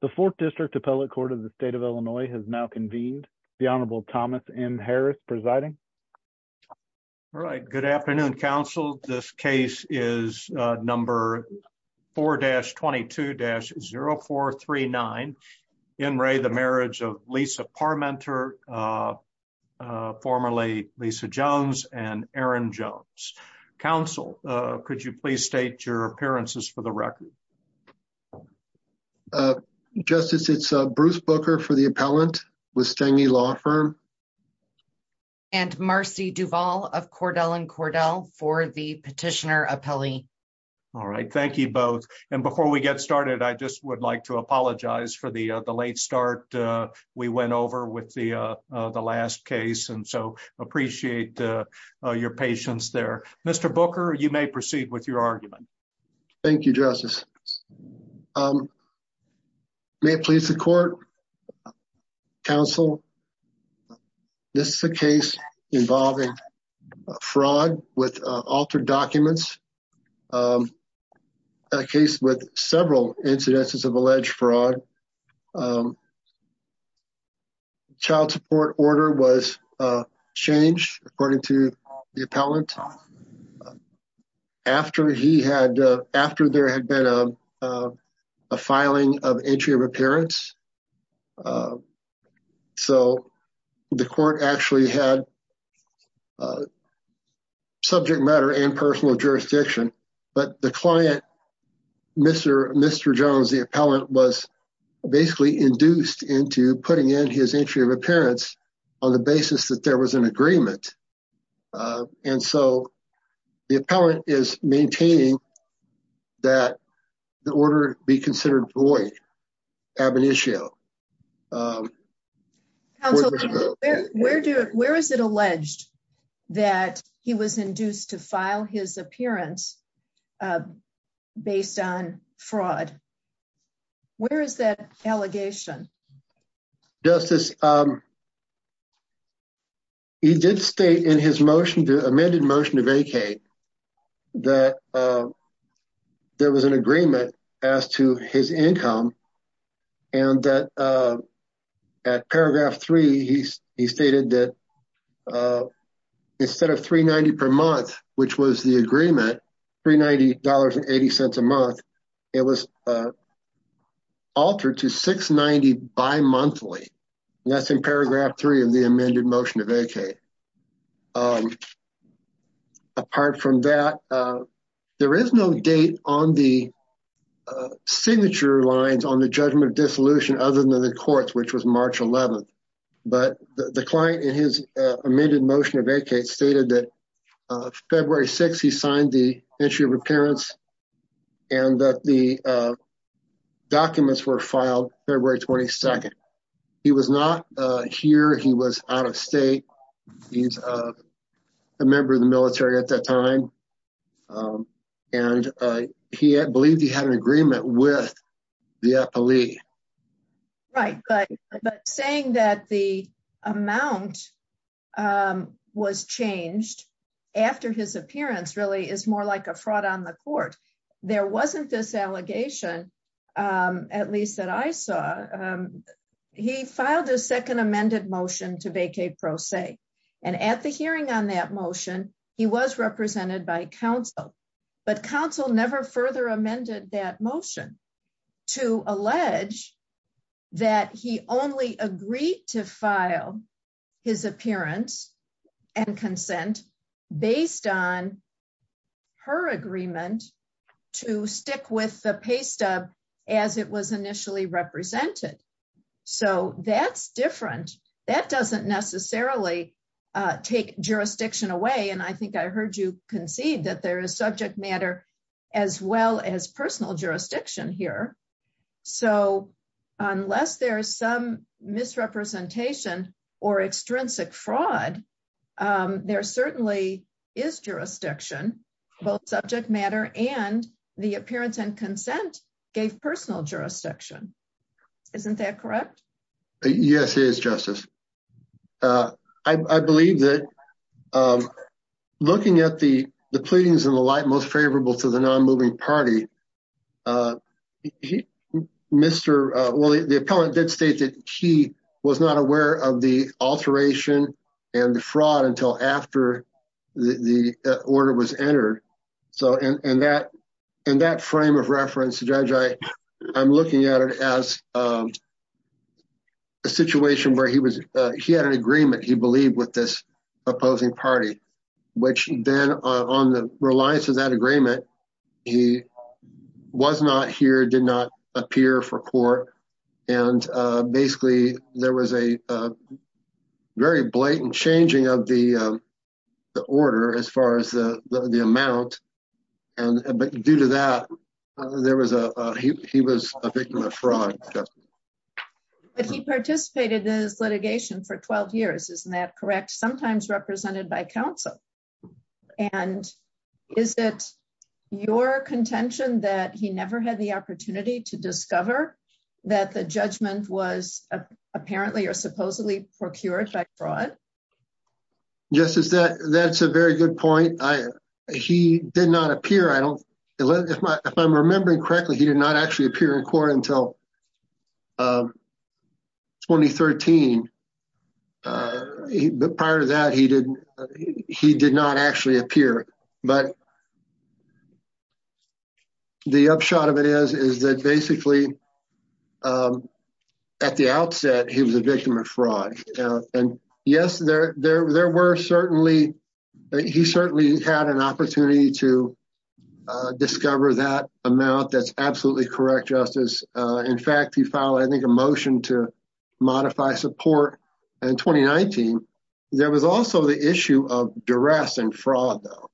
The Fourth District Appellate Court of the State of Illinois has now convened. The Honorable Thomas M. Harris presiding. All right. Good afternoon, counsel. This case is number 4-22-0439. In re the marriage of Lisa Parmenter, formerly Lisa Jones and Aaron Jones. Counsel, could you please state your appearances for the record? Justice, it's Bruce Booker for the appellant with Stangee Law Firm. And Marcy Duvall of Cordell and Cordell for the petitioner appellee. All right. Thank you both. And before we get started, I just would like to apologize for the late start. We went over with the last case and so appreciate your patience there. Mr. Booker, you may proceed with your argument. Thank you, Justice. May it please the court, counsel. This is a case involving fraud with altered documents. A case with several incidences of alleged fraud. Child support order was changed according to the appellant. After there had been a filing of entry of appearance. So the court actually had subject matter and personal jurisdiction. But the client, Mr. Jones, the appellant, was basically induced into putting in his entry of appearance on the basis that there was an agreement. And so the appellant is maintaining that the order be considered void ab initio. Where do where is it alleged that he was induced to file his appearance based on fraud? Where is that allegation? Justice. He did state in his motion to amended motion to vacate that there was an agreement as to his income. And that at paragraph three, he stated that instead of three ninety per month, which was the agreement, three ninety dollars and eighty cents a month. It was altered to six ninety by monthly. That's in paragraph three of the amended motion to vacate. Apart from that, there is no date on the signature lines on the judgment of dissolution other than the courts, which was March 11th. But the client in his amended motion to vacate stated that February six, he signed the entry of appearance and that the documents were filed February 22nd. He was not here. He was out of state. He's a member of the military at that time. And he had believed he had an agreement with the appellee. Right. But saying that the amount was changed after his appearance really is more like a fraud on the court. There wasn't this allegation, at least that I saw. He filed a second amended motion to vacate pro se. And at the hearing on that motion, he was represented by counsel. But counsel never further amended that motion to allege that he only agreed to file his appearance and consent based on her agreement to stick with the pay stub as it was initially represented. So that's different. That doesn't necessarily take jurisdiction away. And I think I heard you concede that there is subject matter as well as personal jurisdiction here. So, unless there is some misrepresentation or extrinsic fraud, there certainly is jurisdiction, both subject matter and the appearance and consent gave personal jurisdiction. Isn't that correct. Yes, it is justice. I believe that looking at the the pleadings in the light most favorable to the non moving party. Mr. Well, the appellant did state that he was not aware of the alteration and the fraud until after the order was entered. So, and that, and that frame of reference judge, I, I'm looking at it as a situation where he was. He had an agreement he believed with this opposing party, which then on the reliance of that agreement. He was not here did not appear for court. And basically, there was a very blatant changing of the order as far as the amount. And due to that, there was a, he was a victim of fraud. But he participated in his litigation for 12 years isn't that correct sometimes represented by counsel. And is it your contention that he never had the opportunity to discover that the judgment was apparently or supposedly procured by fraud. Yes, is that that's a very good point. I, he did not appear. I don't know if I'm remembering correctly. He did not actually appear in court until 2013. But prior to that, he did. He did not actually appear, but the upshot of it is, is that basically. At the outset, he was a victim of fraud. And yes, there, there, there were certainly. He certainly had an opportunity to discover that amount. That's absolutely correct. Justice. In fact, he filed, I think, a motion to modify support and 2019. There was also the issue of duress and fraud though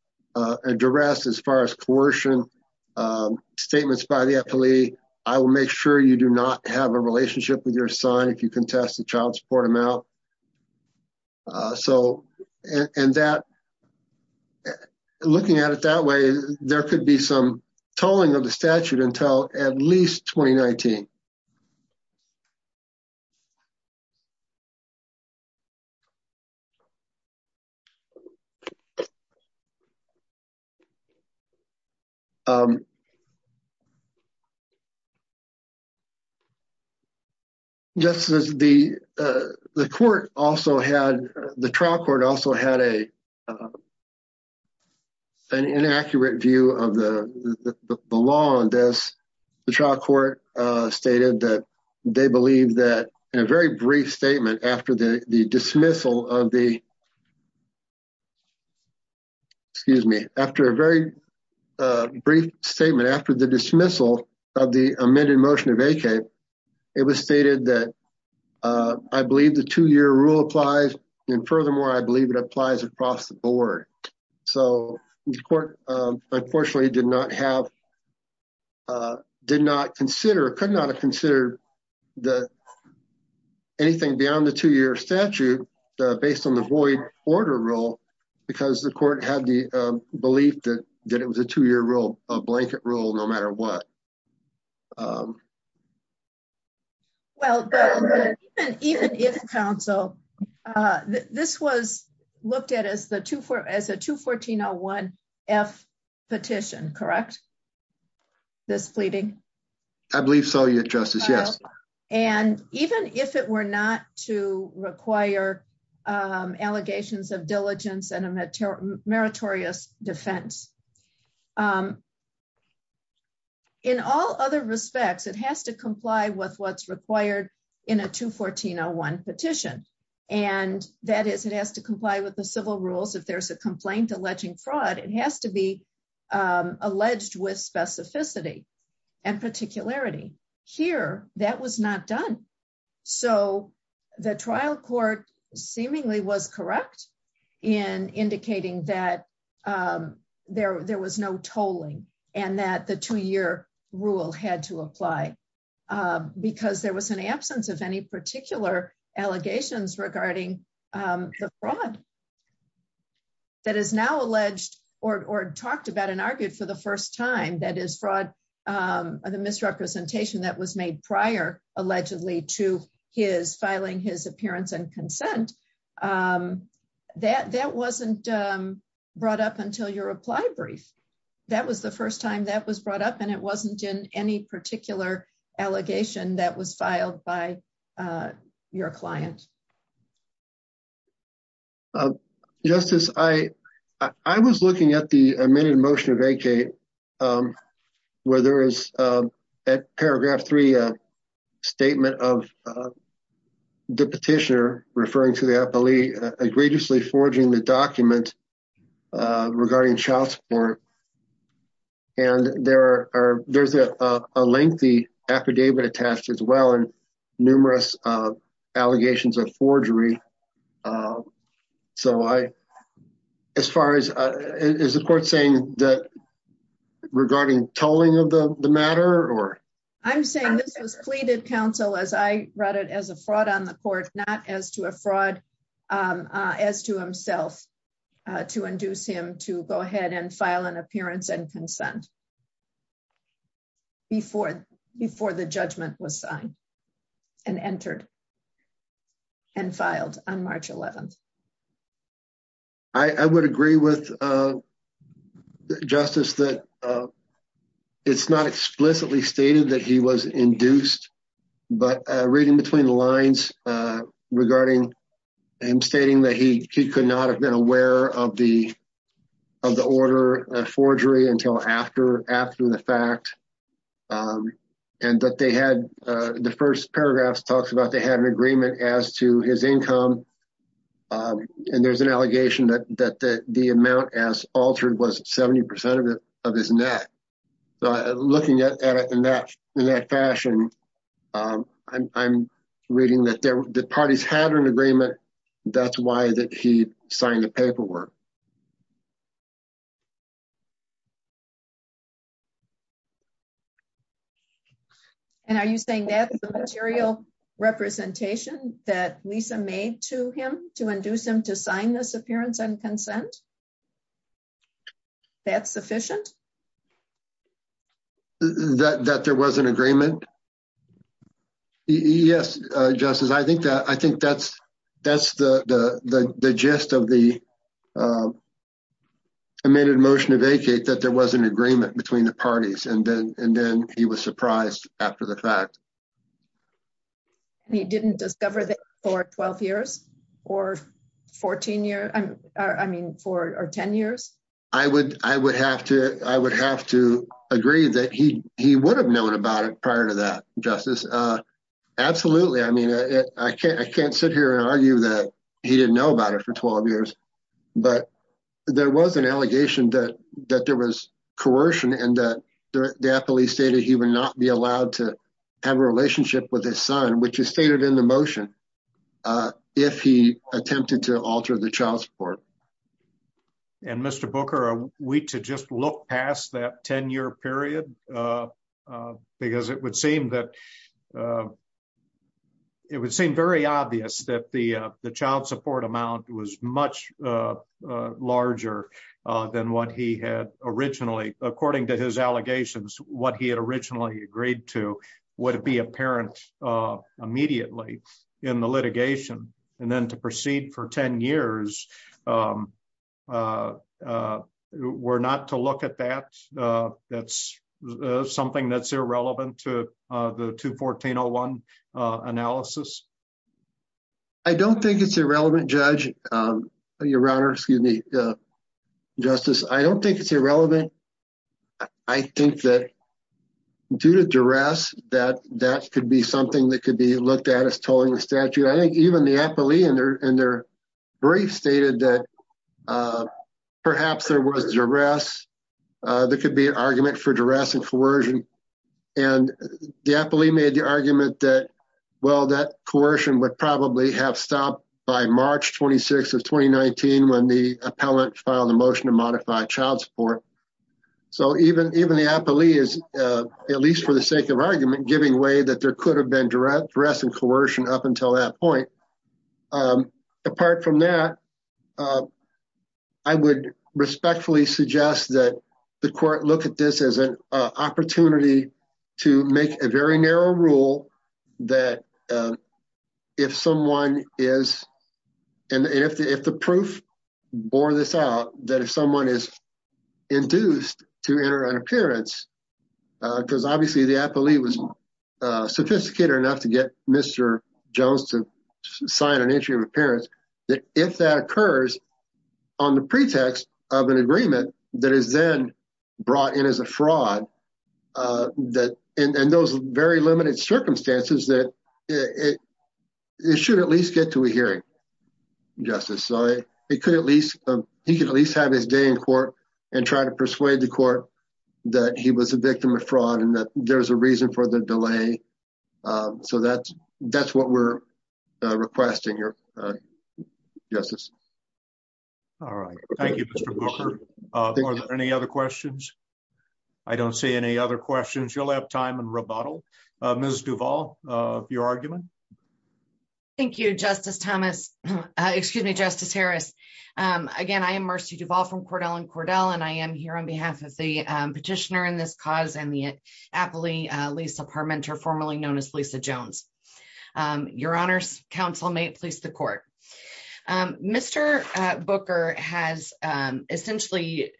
address as far as coercion statements by the FLE, I will make sure you do not have a relationship with your son if you can test the child support amount. So, and that looking at it that way, there could be some tolling of the statute until at least 2019. Okay. Thank you. Thank you. Thank you. Anything beyond the two year statute, based on the void order role, because the court had the belief that that it was a two year rule of blanket rule no matter what. Well, even if council. This was looked at as the two for as a to 1401 F petition correct. This fleeting. I believe so your justice yes. And even if it were not to require allegations of diligence and a material meritorious defense. In all other respects, it has to comply with what's required in a to 1401 petition. And that is it has to comply with the civil rules if there's a complaint alleging fraud, it has to be alleged with specificity and particularity here, that was not done. So, the trial court, seemingly was correct in indicating that there was no tolling, and that the two year rule had to apply. Because there was an absence of any particular allegations regarding the fraud that is now alleged, or talked about and argued for the first time that is fraud of the misrepresentation that was made prior allegedly to his filing his appearance and consent. That that wasn't brought up until your reply brief. That was the first time that was brought up and it wasn't in any particular allegation that was filed by your client. Justice, I, I was looking at the amended motion of a K, where there is a paragraph three statement of the petitioner referring to the appellee egregiously forging the document regarding child support. And there are, there's a lengthy affidavit attached as well and numerous allegations of forgery. So I, as far as is the court saying that regarding tolling of the matter or I'm saying this was pleaded counsel as I read it as a fraud on the court, not as to a fraud. As to himself to induce him to go ahead and file an appearance and consent. Before, before the judgment was signed and entered and filed on March 11. I would agree with justice that it's not explicitly stated that he was induced, but reading between the lines regarding him stating that he could not have been aware of the, of the order forgery until after after the fact. And that they had the first paragraphs talks about they had an agreement as to his income. And there's an allegation that that the amount as altered was 70% of it of his net looking at it in that in that fashion. I'm reading that the parties had an agreement. That's why that he signed the paperwork. And are you saying that material representation that Lisa made to him to induce them to sign this appearance and consent. That's sufficient. That there was an agreement. Yes, justice. I think that I think that's, that's the, the, the gist of the amended motion to vacate that there was an agreement between the parties and then, and then he was surprised after the fact. He didn't discover that for 12 years or 14 year. I mean, four or 10 years, I would, I would have to, I would have to agree that he, he would have known about it prior to that justice. Absolutely. I mean, I can't, I can't sit here and argue that he didn't know about it for 12 years, but there was an allegation that that there was coercion and that definitely stated he would not be allowed to have a relationship with his son, which is stated in the motion. If he attempted to alter the child support. And Mr. Booker, we to just look past that 10 year period, because it would seem that it would seem very obvious that the, the child support amount was much larger than what he had originally, according to his allegations, what he had originally agreed to what it'd be apparent immediately in the litigation, and then to proceed for 10 years. We're not to look at that. That's something that's irrelevant to the to 1401 analysis. I don't think it's irrelevant judge. Your Honor, excuse me. Justice, I don't think it's irrelevant. I think that due to duress that that could be something that could be looked at as tolling the statute I think even the appellee and their, and their brief stated that perhaps there was duress. There could be an argument for duress and coercion, and the appellee made the argument that well that coercion would probably have stopped by March 26 of 2019 when the appellant filed a motion to modify child support. So even even the appellee is, at least for the sake of argument giving way that there could have been direct dress and coercion up until that point. Apart from that, I would respectfully suggest that the court look at this as an opportunity to make a very narrow rule that if someone is. And if the if the proof or this out that if someone is induced to enter an appearance, because obviously the appellee was sophisticated enough to get Mr. Jones to sign an entry of appearance that if that occurs on the pretext of an agreement that is then brought in as a fraud that in those very limited circumstances that it should at least get to a hearing. Justice, so it could at least he could at least have his day in court and try to persuade the court that he was a victim of fraud and that there's a reason for the delay. So that's, that's what we're requesting your justice. All right. Thank you. Any other questions. I don't see any other questions you'll have time and rebuttal. Miss Duvall, your argument. Thank you, Justice Thomas. Excuse me, Justice Harris. Again, I am Mercy Duvall from Cordell and Cordell and I am here on behalf of the petitioner in this cause and the aptly Lisa par mentor formerly known as Lisa Jones. Your Honor's counsel may please the court. Mr. Booker has essentially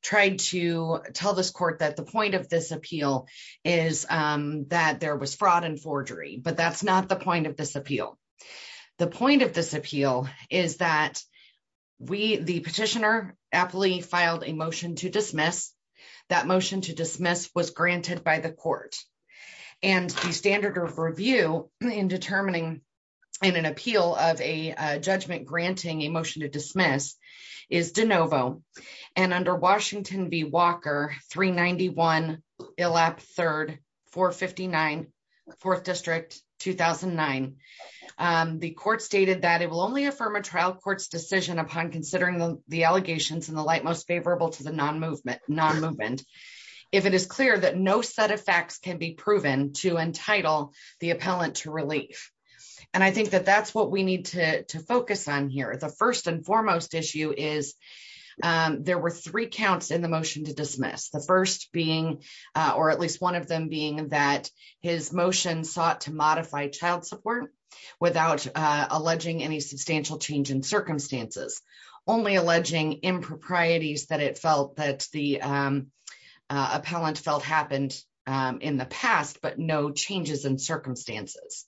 tried to tell this court that the point of this appeal is that there was fraud and forgery but that's not the point of this appeal. The point of this appeal is that we the petitioner aptly filed a motion to dismiss that motion to dismiss was granted by the court, and the standard of review in determining in an appeal of a judgment granting emotion to dismiss is de novo. And under Washington be Walker 391 elap third for 59. Fourth District, 2009. The court stated that it will only affirm a trial courts decision upon considering the allegations in the light most favorable to the non movement non movement. If it is clear that no set of facts can be proven to entitle the appellant to relief. And I think that that's what we need to focus on here the first and foremost issue is there were three counts in the motion to dismiss the first being, or at least one of them being that his motion sought to modify child support without alleging any substantial change in circumstances, only alleging improprieties that it felt that the appellant felt happened in the past but no changes in circumstances.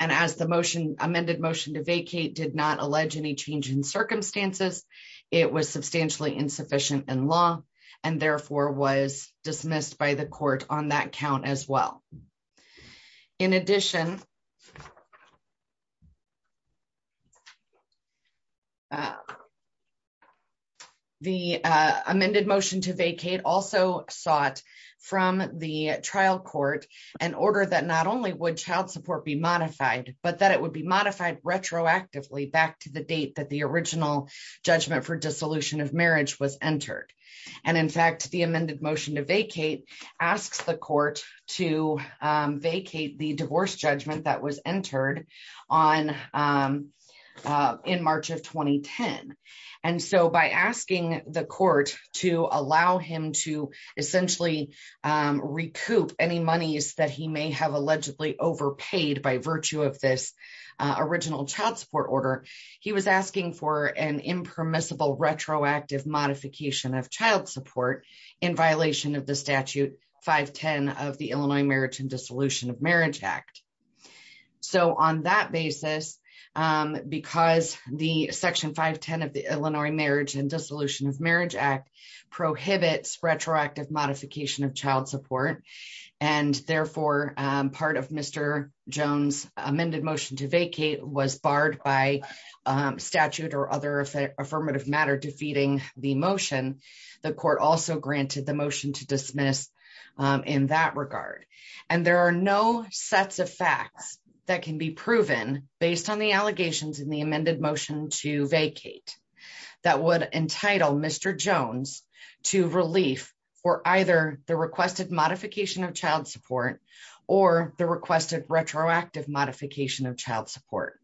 And as the motion amended motion to vacate did not allege any change in circumstances. It was substantially insufficient and law, and therefore was dismissed by the court on that count as well. In addition, the amended motion to vacate also sought from the trial court and order that not only would child support be modified, but that it would be modified retroactively back to the date that the original judgment for dissolution of marriage was entered. And in fact, the amended motion to vacate asks the court to vacate the divorce judgment that was entered on in March of 2010. And so by asking the court to allow him to essentially recoup any monies that he may have allegedly overpaid by virtue of this original child support order. He was asking for an impermissible retroactive modification of child support in violation of the statute 510 of the Illinois marriage and dissolution of marriage act. So on that basis, because the section 510 of the Illinois marriage and dissolution of marriage act prohibits retroactive modification of child support. And therefore, part of Mr. Jones amended motion to vacate was barred by statute or other affirmative matter defeating the motion. The court also granted the motion to dismiss in that regard. And there are no sets of facts that can be proven based on the allegations in the amended motion to vacate. That would entitle Mr. Jones to relief for either the requested modification of child support or the requested retroactive modification of child support.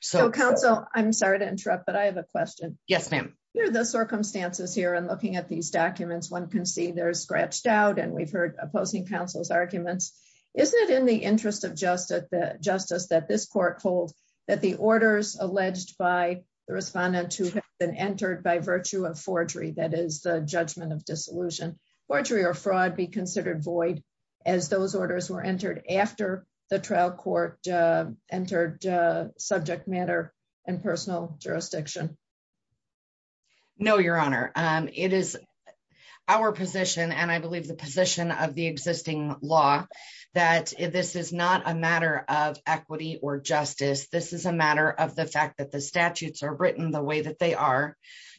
So counsel, I'm sorry to interrupt, but I have a question. Yes, ma'am. Under the circumstances here and looking at these documents one can see they're scratched out and we've heard opposing counsel's arguments. Is it in the interest of justice that this court hold that the orders alleged by the respondent to have been entered by virtue of forgery that is the judgment of dissolution forgery or fraud be considered void as those orders were entered after the trial court entered subject matter and personal jurisdiction. No, Your Honor. It is our position and I believe the position of the existing law that this is not a matter of equity or justice. This is a matter of the fact that the statutes are written the way that they are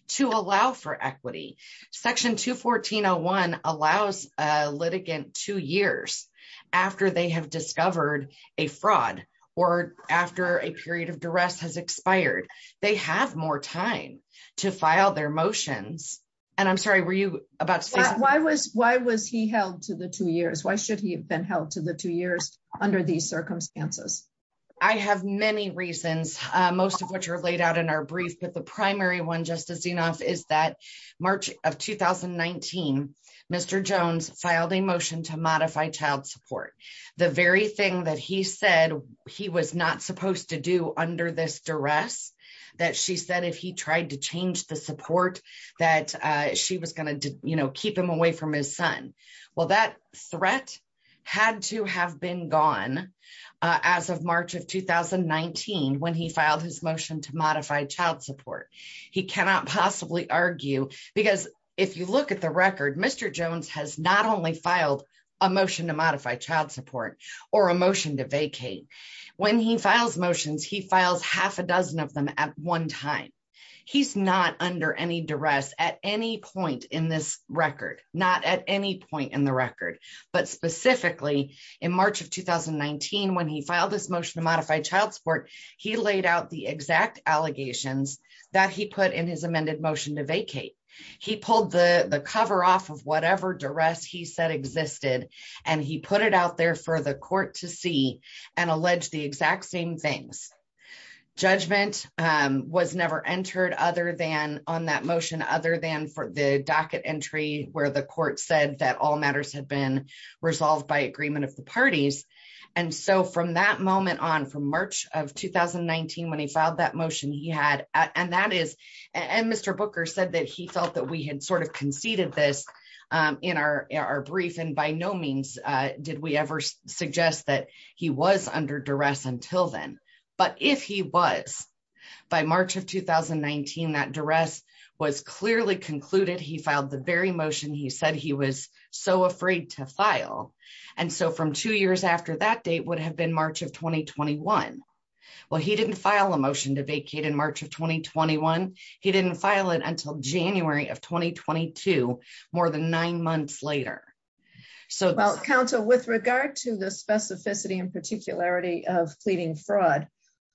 to allow for equity. Section 214-01 allows a litigant two years after they have discovered a fraud or after a period of duress has expired. They have more time to file their motions. And I'm sorry, were you about to say something? Why was he held to the two years? Why should he have been held to the two years under these circumstances? I have many reasons, most of which are laid out in our brief, but the primary one just as enough is that March of 2019. Mr. Jones filed a motion to modify child support. The very thing that he said he was not supposed to do under this duress that she said if he tried to change the support that she was going to, you know, keep him away from his son. Well, that threat had to have been gone as of March of 2019 when he filed his motion to modify child support. He cannot possibly argue because if you look at the record, Mr. Jones has not only filed a motion to modify child support or a motion to vacate. When he files motions, he files half a dozen of them at one time. He's not under any duress at any point in this record, not at any point in the record. But specifically in March of 2019, when he filed this motion to modify child support, he laid out the exact allegations that he put in his amended motion to vacate. He pulled the cover off of whatever duress he said existed, and he put it out there for the court to see and allege the exact same things. Judgment was never entered on that motion other than for the docket entry where the court said that all matters had been resolved by agreement of the parties. And so from that moment on, from March of 2019, when he filed that motion, he had, and that is, and Mr. Booker said that he felt that we had sort of conceded this in our brief. And by no means did we ever suggest that he was under duress until then. But if he was, by March of 2019, that duress was clearly concluded. He filed the very motion he said he was so afraid to file. And so from two years after that date would have been March of 2021. Well, he didn't file a motion to vacate in March of 2021. He didn't file it until January of 2022, more than nine months later. So, counsel with regard to the specificity and particularity of pleading fraud.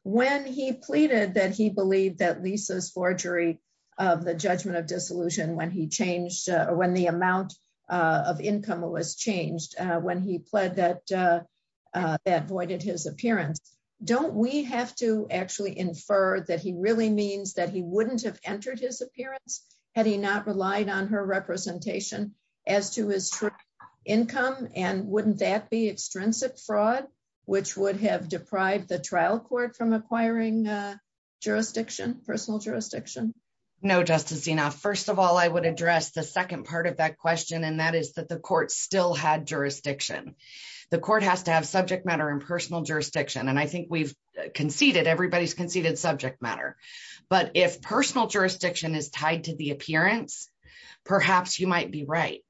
When he pleaded that he believed that Lisa's forgery of the judgment of dissolution when he changed, or when the amount of income was changed when he pled that that voided Don't we have to actually infer that he really means that he wouldn't have entered his appearance, had he not relied on her representation as to his income and wouldn't that be extrinsic fraud, which would have deprived the trial court from acquiring jurisdiction No justice enough. First of all, I would address the second part of that question and that is that the court still had jurisdiction. The court has to have subject matter and personal jurisdiction and I think we've conceded everybody's conceded subject matter. But if personal jurisdiction is tied to the appearance. Perhaps you might be right,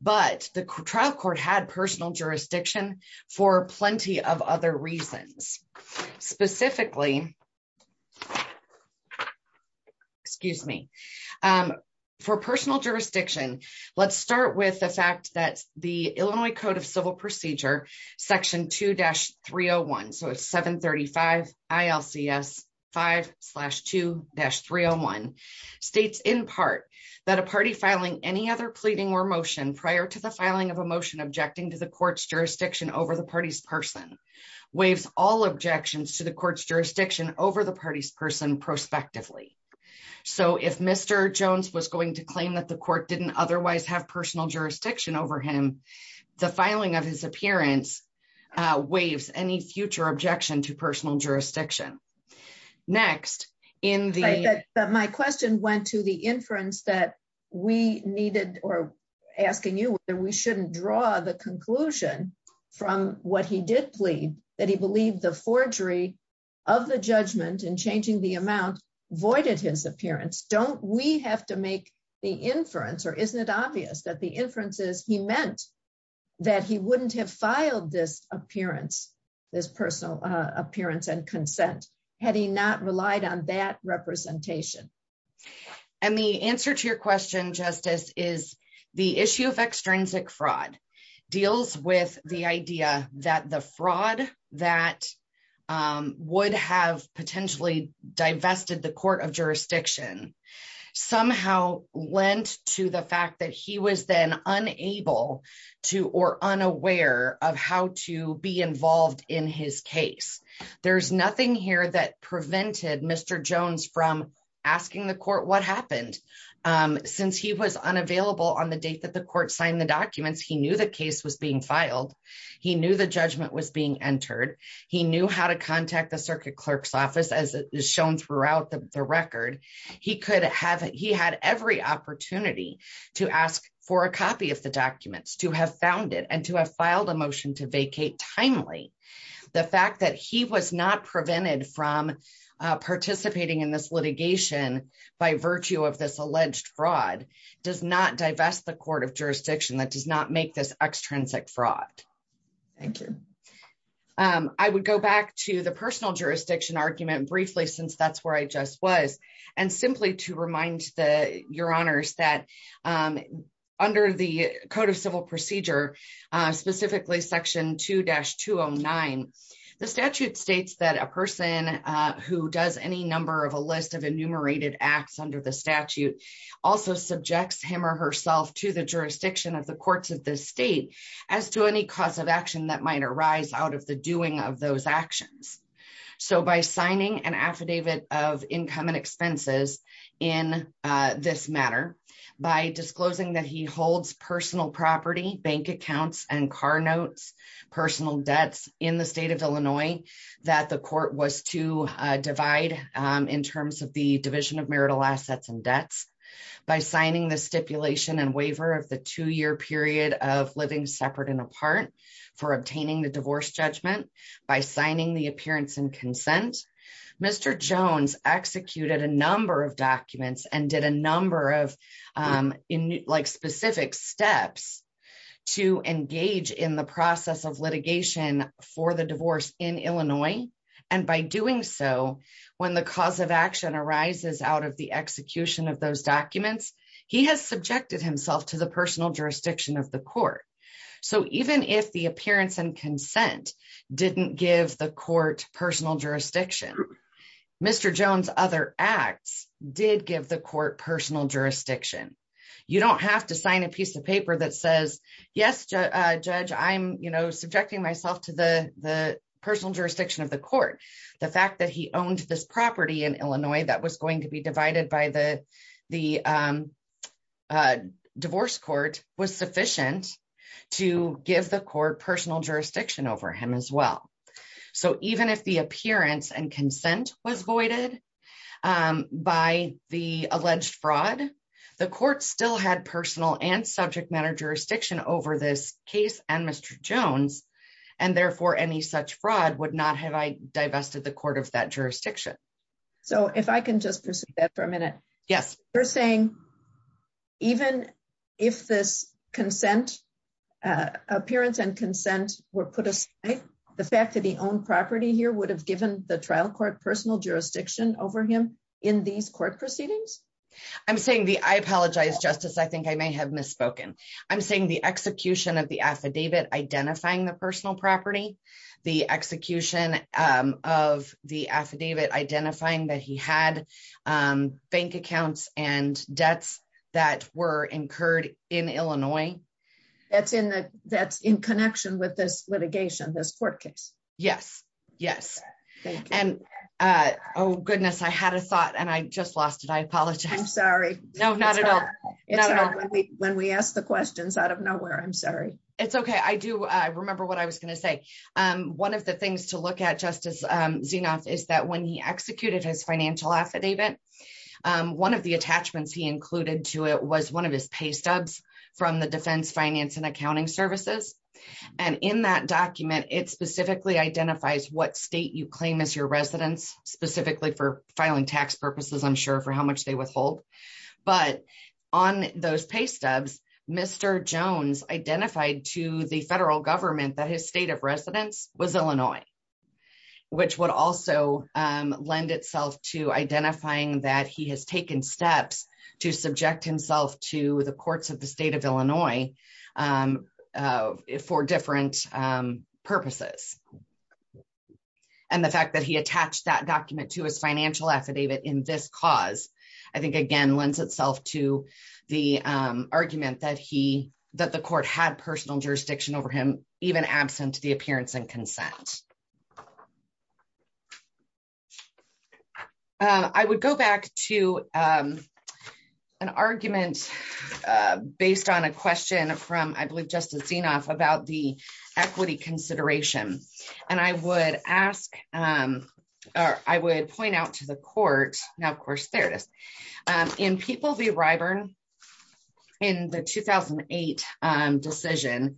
but the trial court had personal jurisdiction for plenty of other reasons, specifically. Excuse me. For personal jurisdiction. Let's start with the fact that the Illinois Code of Civil Procedure, section two dash 301 so it's 735 ILCS five slash two dash 301 states in part that a party filing any other pleading or motion prior to the filing of a motion objecting to the court's jurisdiction over the party's person waves all objections to the court's jurisdiction over the party's person prospectively. So if Mr. Jones was going to claim that the court didn't otherwise have personal jurisdiction over him the filing of his appearance waves any future objection to personal jurisdiction. Next, in my question went to the inference that we needed or asking you, we shouldn't draw the conclusion from what he did plead that he believed the forgery of the judgment and changing the amount voided his appearance don't we have to make the inference or isn't it obvious that the inferences he meant that he wouldn't have filed this appearance, this personal appearance and consent, had he not relied on that representation. And the answer to your question justice is the issue of extrinsic fraud deals with the idea that the fraud, that would have potentially divested the court of jurisdiction, somehow, went to the fact that he was then unable to or unaware of how to be involved in his case. There's nothing here that prevented Mr. Jones from asking the court what happened. Since he was unavailable on the date that the court signed the documents he knew the case was being filed. He knew the judgment was being entered. He knew how to contact the circuit clerk's office as shown throughout the record. He could have he had every opportunity to ask for a copy of the documents to have found it and to have filed a motion to vacate timely. The fact that he was not prevented from participating in this litigation, by virtue of this alleged fraud does not divest the court of jurisdiction that does not make this extrinsic fraud. Thank you. I would go back to the personal jurisdiction argument briefly since that's where I just was. And simply to remind the, your honors that under the Code of Civil Procedure, specifically section 2-209, the statute states that a person who does any number of a out of the doing of those actions. So by signing an affidavit of income and expenses in this matter, by disclosing that he holds personal property, bank accounts and car notes, personal debts in the state of Illinois, that the court was to divide in terms of the judgment by signing the appearance and consent. Mr. Jones executed a number of documents and did a number of specific steps to engage in the process of litigation for the divorce in Illinois. And by doing so, when the cause of action arises out of the execution of So even if the appearance and consent didn't give the court personal jurisdiction, Mr. Jones' other acts did give the court personal jurisdiction. You don't have to sign a piece of paper that says, yes, Judge, I'm, you know, subjecting myself to the personal jurisdiction of the court. The fact that he owned this property in Illinois that was going to be divided by the divorce court was sufficient to give the court personal jurisdiction over him as well. So even if the appearance and consent was voided by the alleged fraud, the court still had personal and subject matter jurisdiction over this case and Mr. Jones, and therefore any such fraud would not have I divested the court of that jurisdiction. So if I can just pursue that for a minute. Yes, you're saying, even if this consent appearance and consent were put aside, the fact that he owned property here would have given the trial court personal jurisdiction over him in these court proceedings. I'm saying the I apologize, Justice, I think I may have misspoken. I'm saying the execution of the affidavit identifying the personal property, the execution of the affidavit identifying that he had bank accounts and debts that were incurred in Illinois. That's in the, that's in connection with this litigation this court case. Yes, yes. And, oh goodness I had a thought and I just lost it I apologize. I'm sorry. No, not at all. When we asked the questions out of nowhere I'm sorry. It's okay I do remember what I was going to say. One of the things to look at Justice Zenoff is that when he executed his financial affidavit. One of the attachments he included to it was one of his pay stubs from the defense finance and accounting services. And in that document it specifically identifies what state you claim as your residence, specifically for filing tax purposes I'm sure for how much they withhold. But on those pay stubs, Mr. Jones identified to the federal government that his state of residence was Illinois, which would also lend itself to identifying that he has taken steps to subject himself to the courts of the state of Illinois for different purposes. And the fact that he attached that document to his financial affidavit in this cause, I think again lends itself to the argument that he that the court had personal jurisdiction over him, even absent the appearance and consent. I would go back to an argument based on a question from I believe Justice Zenoff about the equity consideration, and I would ask, I would point out to the court. Now, of course, there it is. In People v. Ryburn, in the 2008 decision,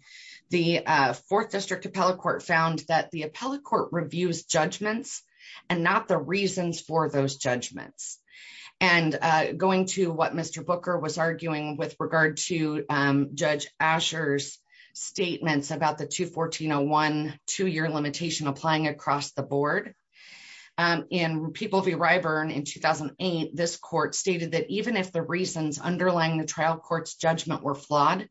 the Fourth District Appellate Court found that the appellate court reviews judgments and not the reasons for those judgments. And going to what Mr. Booker was arguing with regard to Judge Asher's statements about the 214-01 two-year limitation applying across the board. In People v. Ryburn in 2008, this court stated that even if the reasons underlying the trial court's judgment were flawed,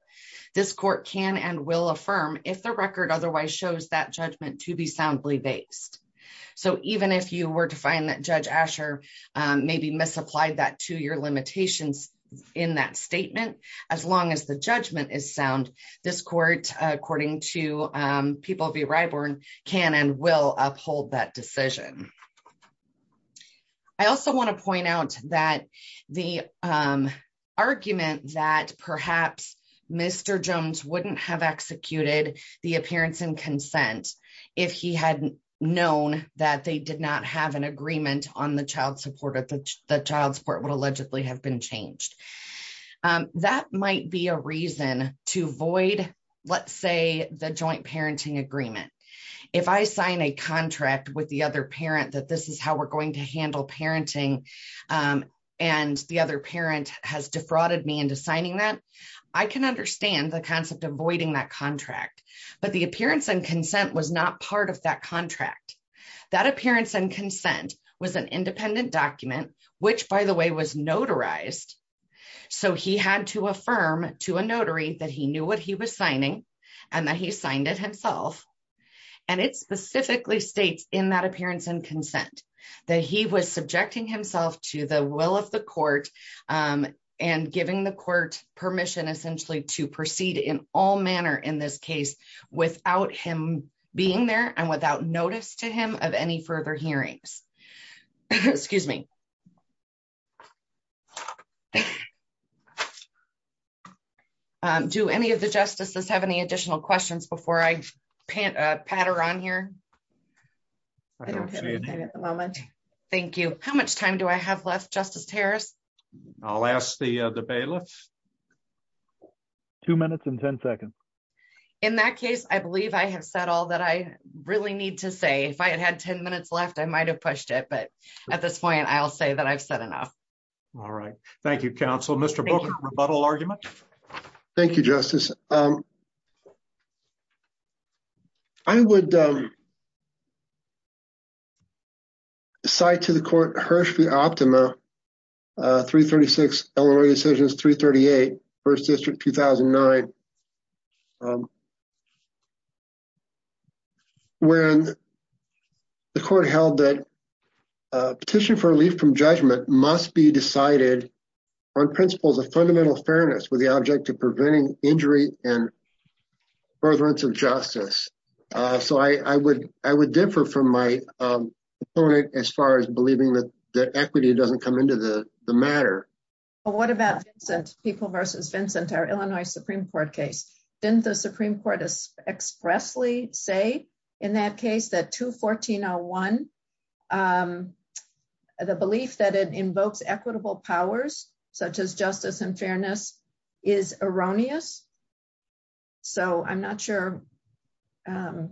this court can and will affirm if the record otherwise shows that judgment to be soundly based. So even if you were to find that Judge Asher maybe misapplied that two-year limitations in that statement, as long as the judgment is sound, this court, according to People v. Ryburn, can and will uphold that decision. I also want to point out that the argument that perhaps Mr. Jones wouldn't have executed the appearance and consent if he had known that they did not have an agreement on the child support or the child support would allegedly have been changed. That might be a reason to void, let's say, the joint parenting agreement. If I sign a contract with the other parent that this is how we're going to handle parenting and the other parent has defrauded me into signing that, I can understand the concept of voiding that contract. But the appearance and consent was not part of that contract. That appearance and consent was an independent document, which, by the way, was notarized. So he had to affirm to a notary that he knew what he was signing and that he signed it himself. And it specifically states in that appearance and consent that he was subjecting himself to the will of the court and giving the court permission essentially to proceed in all manner in this case without him being there and without notice to him of any further hearings. Excuse me. Do any of the justices have any additional questions before I pat her on here? I don't see anything at the moment. Thank you. How much time do I have left, Justice Harris? I'll ask the bailiffs. Two minutes and 10 seconds. In that case, I believe I have said all that I really need to say. If I had 10 minutes left, I might have pushed it. But at this point, I'll say that I've said enough. All right. Thank you, Counsel. Mr. Booker, rebuttal argument? Thank you, Justice. I would side to the court Hirsch v. Optima, 336 Illinois Decisions, 338, 1st District, 2009, when the court held that petition for relief from judgment must be decided on principles of fundamental fairness with the object of preventing injury and furtherance of justice. So I would differ from my opponent as far as believing that equity doesn't come into the matter. But what about Vincent, People v. Vincent, our Illinois Supreme Court case? Didn't the Supreme Court expressly say in that case that 214.01, the belief that it invokes equitable powers, such as justice and fairness, is erroneous? So I'm not sure, in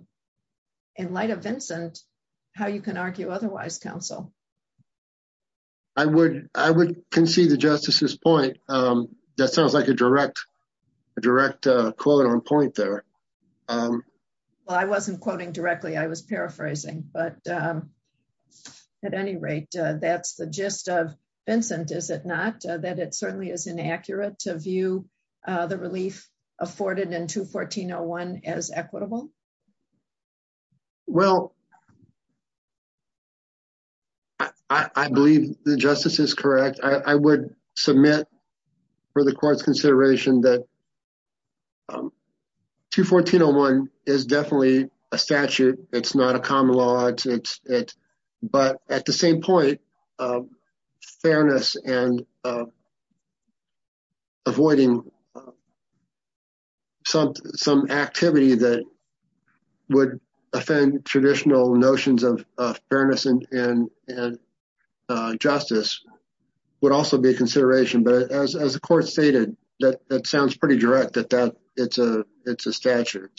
light of Vincent, how you can argue otherwise, Counsel. I would concede the Justice's point. That sounds like a direct quote on point there. Well, I wasn't quoting directly. I was paraphrasing, but at any rate, that's the gist of Vincent, is it not? That it certainly is inaccurate to view the relief afforded in 214.01 as equitable? Well, I believe the Justice is correct. I would submit for the Court's consideration that 214.01 is definitely a statute. It's not a common law. But at the same point, fairness and avoiding some activity that would offend traditional notions of fairness and justice would also be a consideration. But as the Court stated, that sounds pretty direct that it's a statute.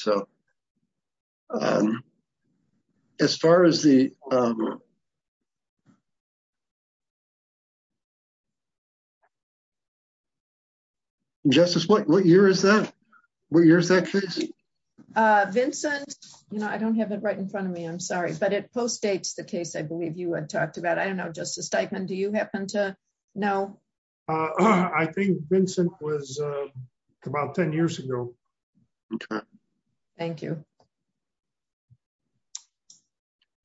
Justice, what year is that case? Vincent, I don't have it right in front of me, I'm sorry, but it postdates the case I believe you had talked about. I don't know, Justice Steikman, do you happen to know? I think Vincent was about 10 years ago. Thank you.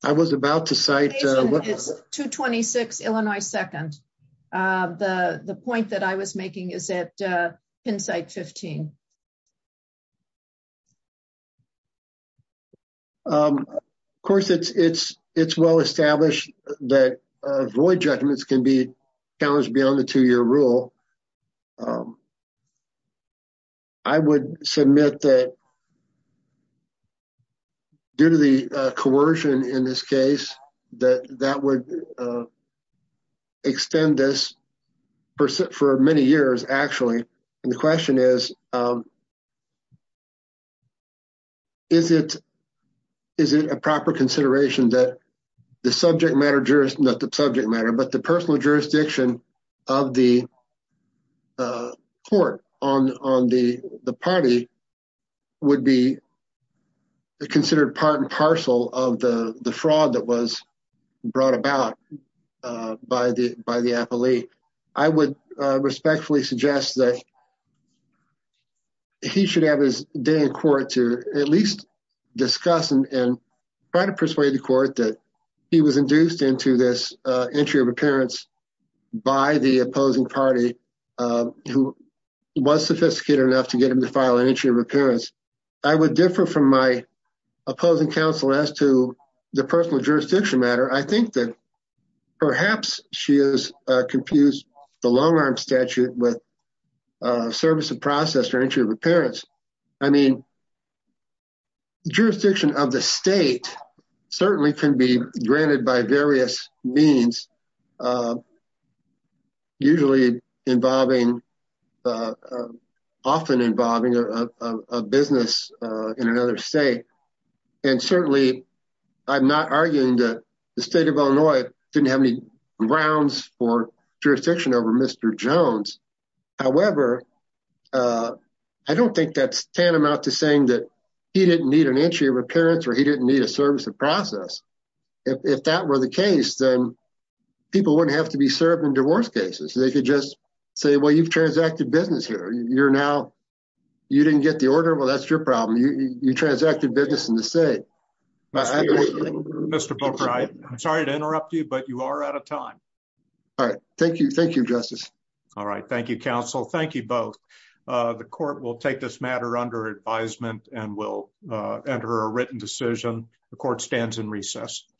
I was about to cite... It's 226 Illinois 2nd. The point that I was making is at Penn Site 15. Of course, it's well established that void judgments can be challenged beyond the two-year rule. I would submit that due to the coercion in this case, that that would extend this for many years, actually. The question is, is it a proper consideration that the personal jurisdiction of the Court on the party would be considered part and parcel of the fraud that was brought about by the appellee? I would respectfully suggest that he should have his day in court to at least discuss and try to persuade the Court that he was induced into this entry of appearance by the opposing party who was sophisticated enough to get him to file an entry of appearance. I would differ from my opposing counsel as to the personal jurisdiction matter. I think that perhaps she has confused the long-arm statute with service of process or entry of appearance. I mean, jurisdiction of the state certainly can be granted by various means, usually involving, often involving a business in another state. Certainly, I'm not arguing that the state of Illinois didn't have any grounds for jurisdiction over Mr. Jones. However, I don't think that's tantamount to saying that he didn't need an entry of appearance or he didn't need a service of process. If that were the case, then people wouldn't have to be served in divorce cases. They could just say, well, you've transacted business here. You're now, you didn't get the order. Well, that's your problem. You transacted business in the state. Mr. Booker, I'm sorry to interrupt you, but you are out of time. All right. Thank you. Thank you, Justice. All right. Thank you, counsel. Thank you both. The court will take this matter under advisement and will enter a written decision. The court stands in recess.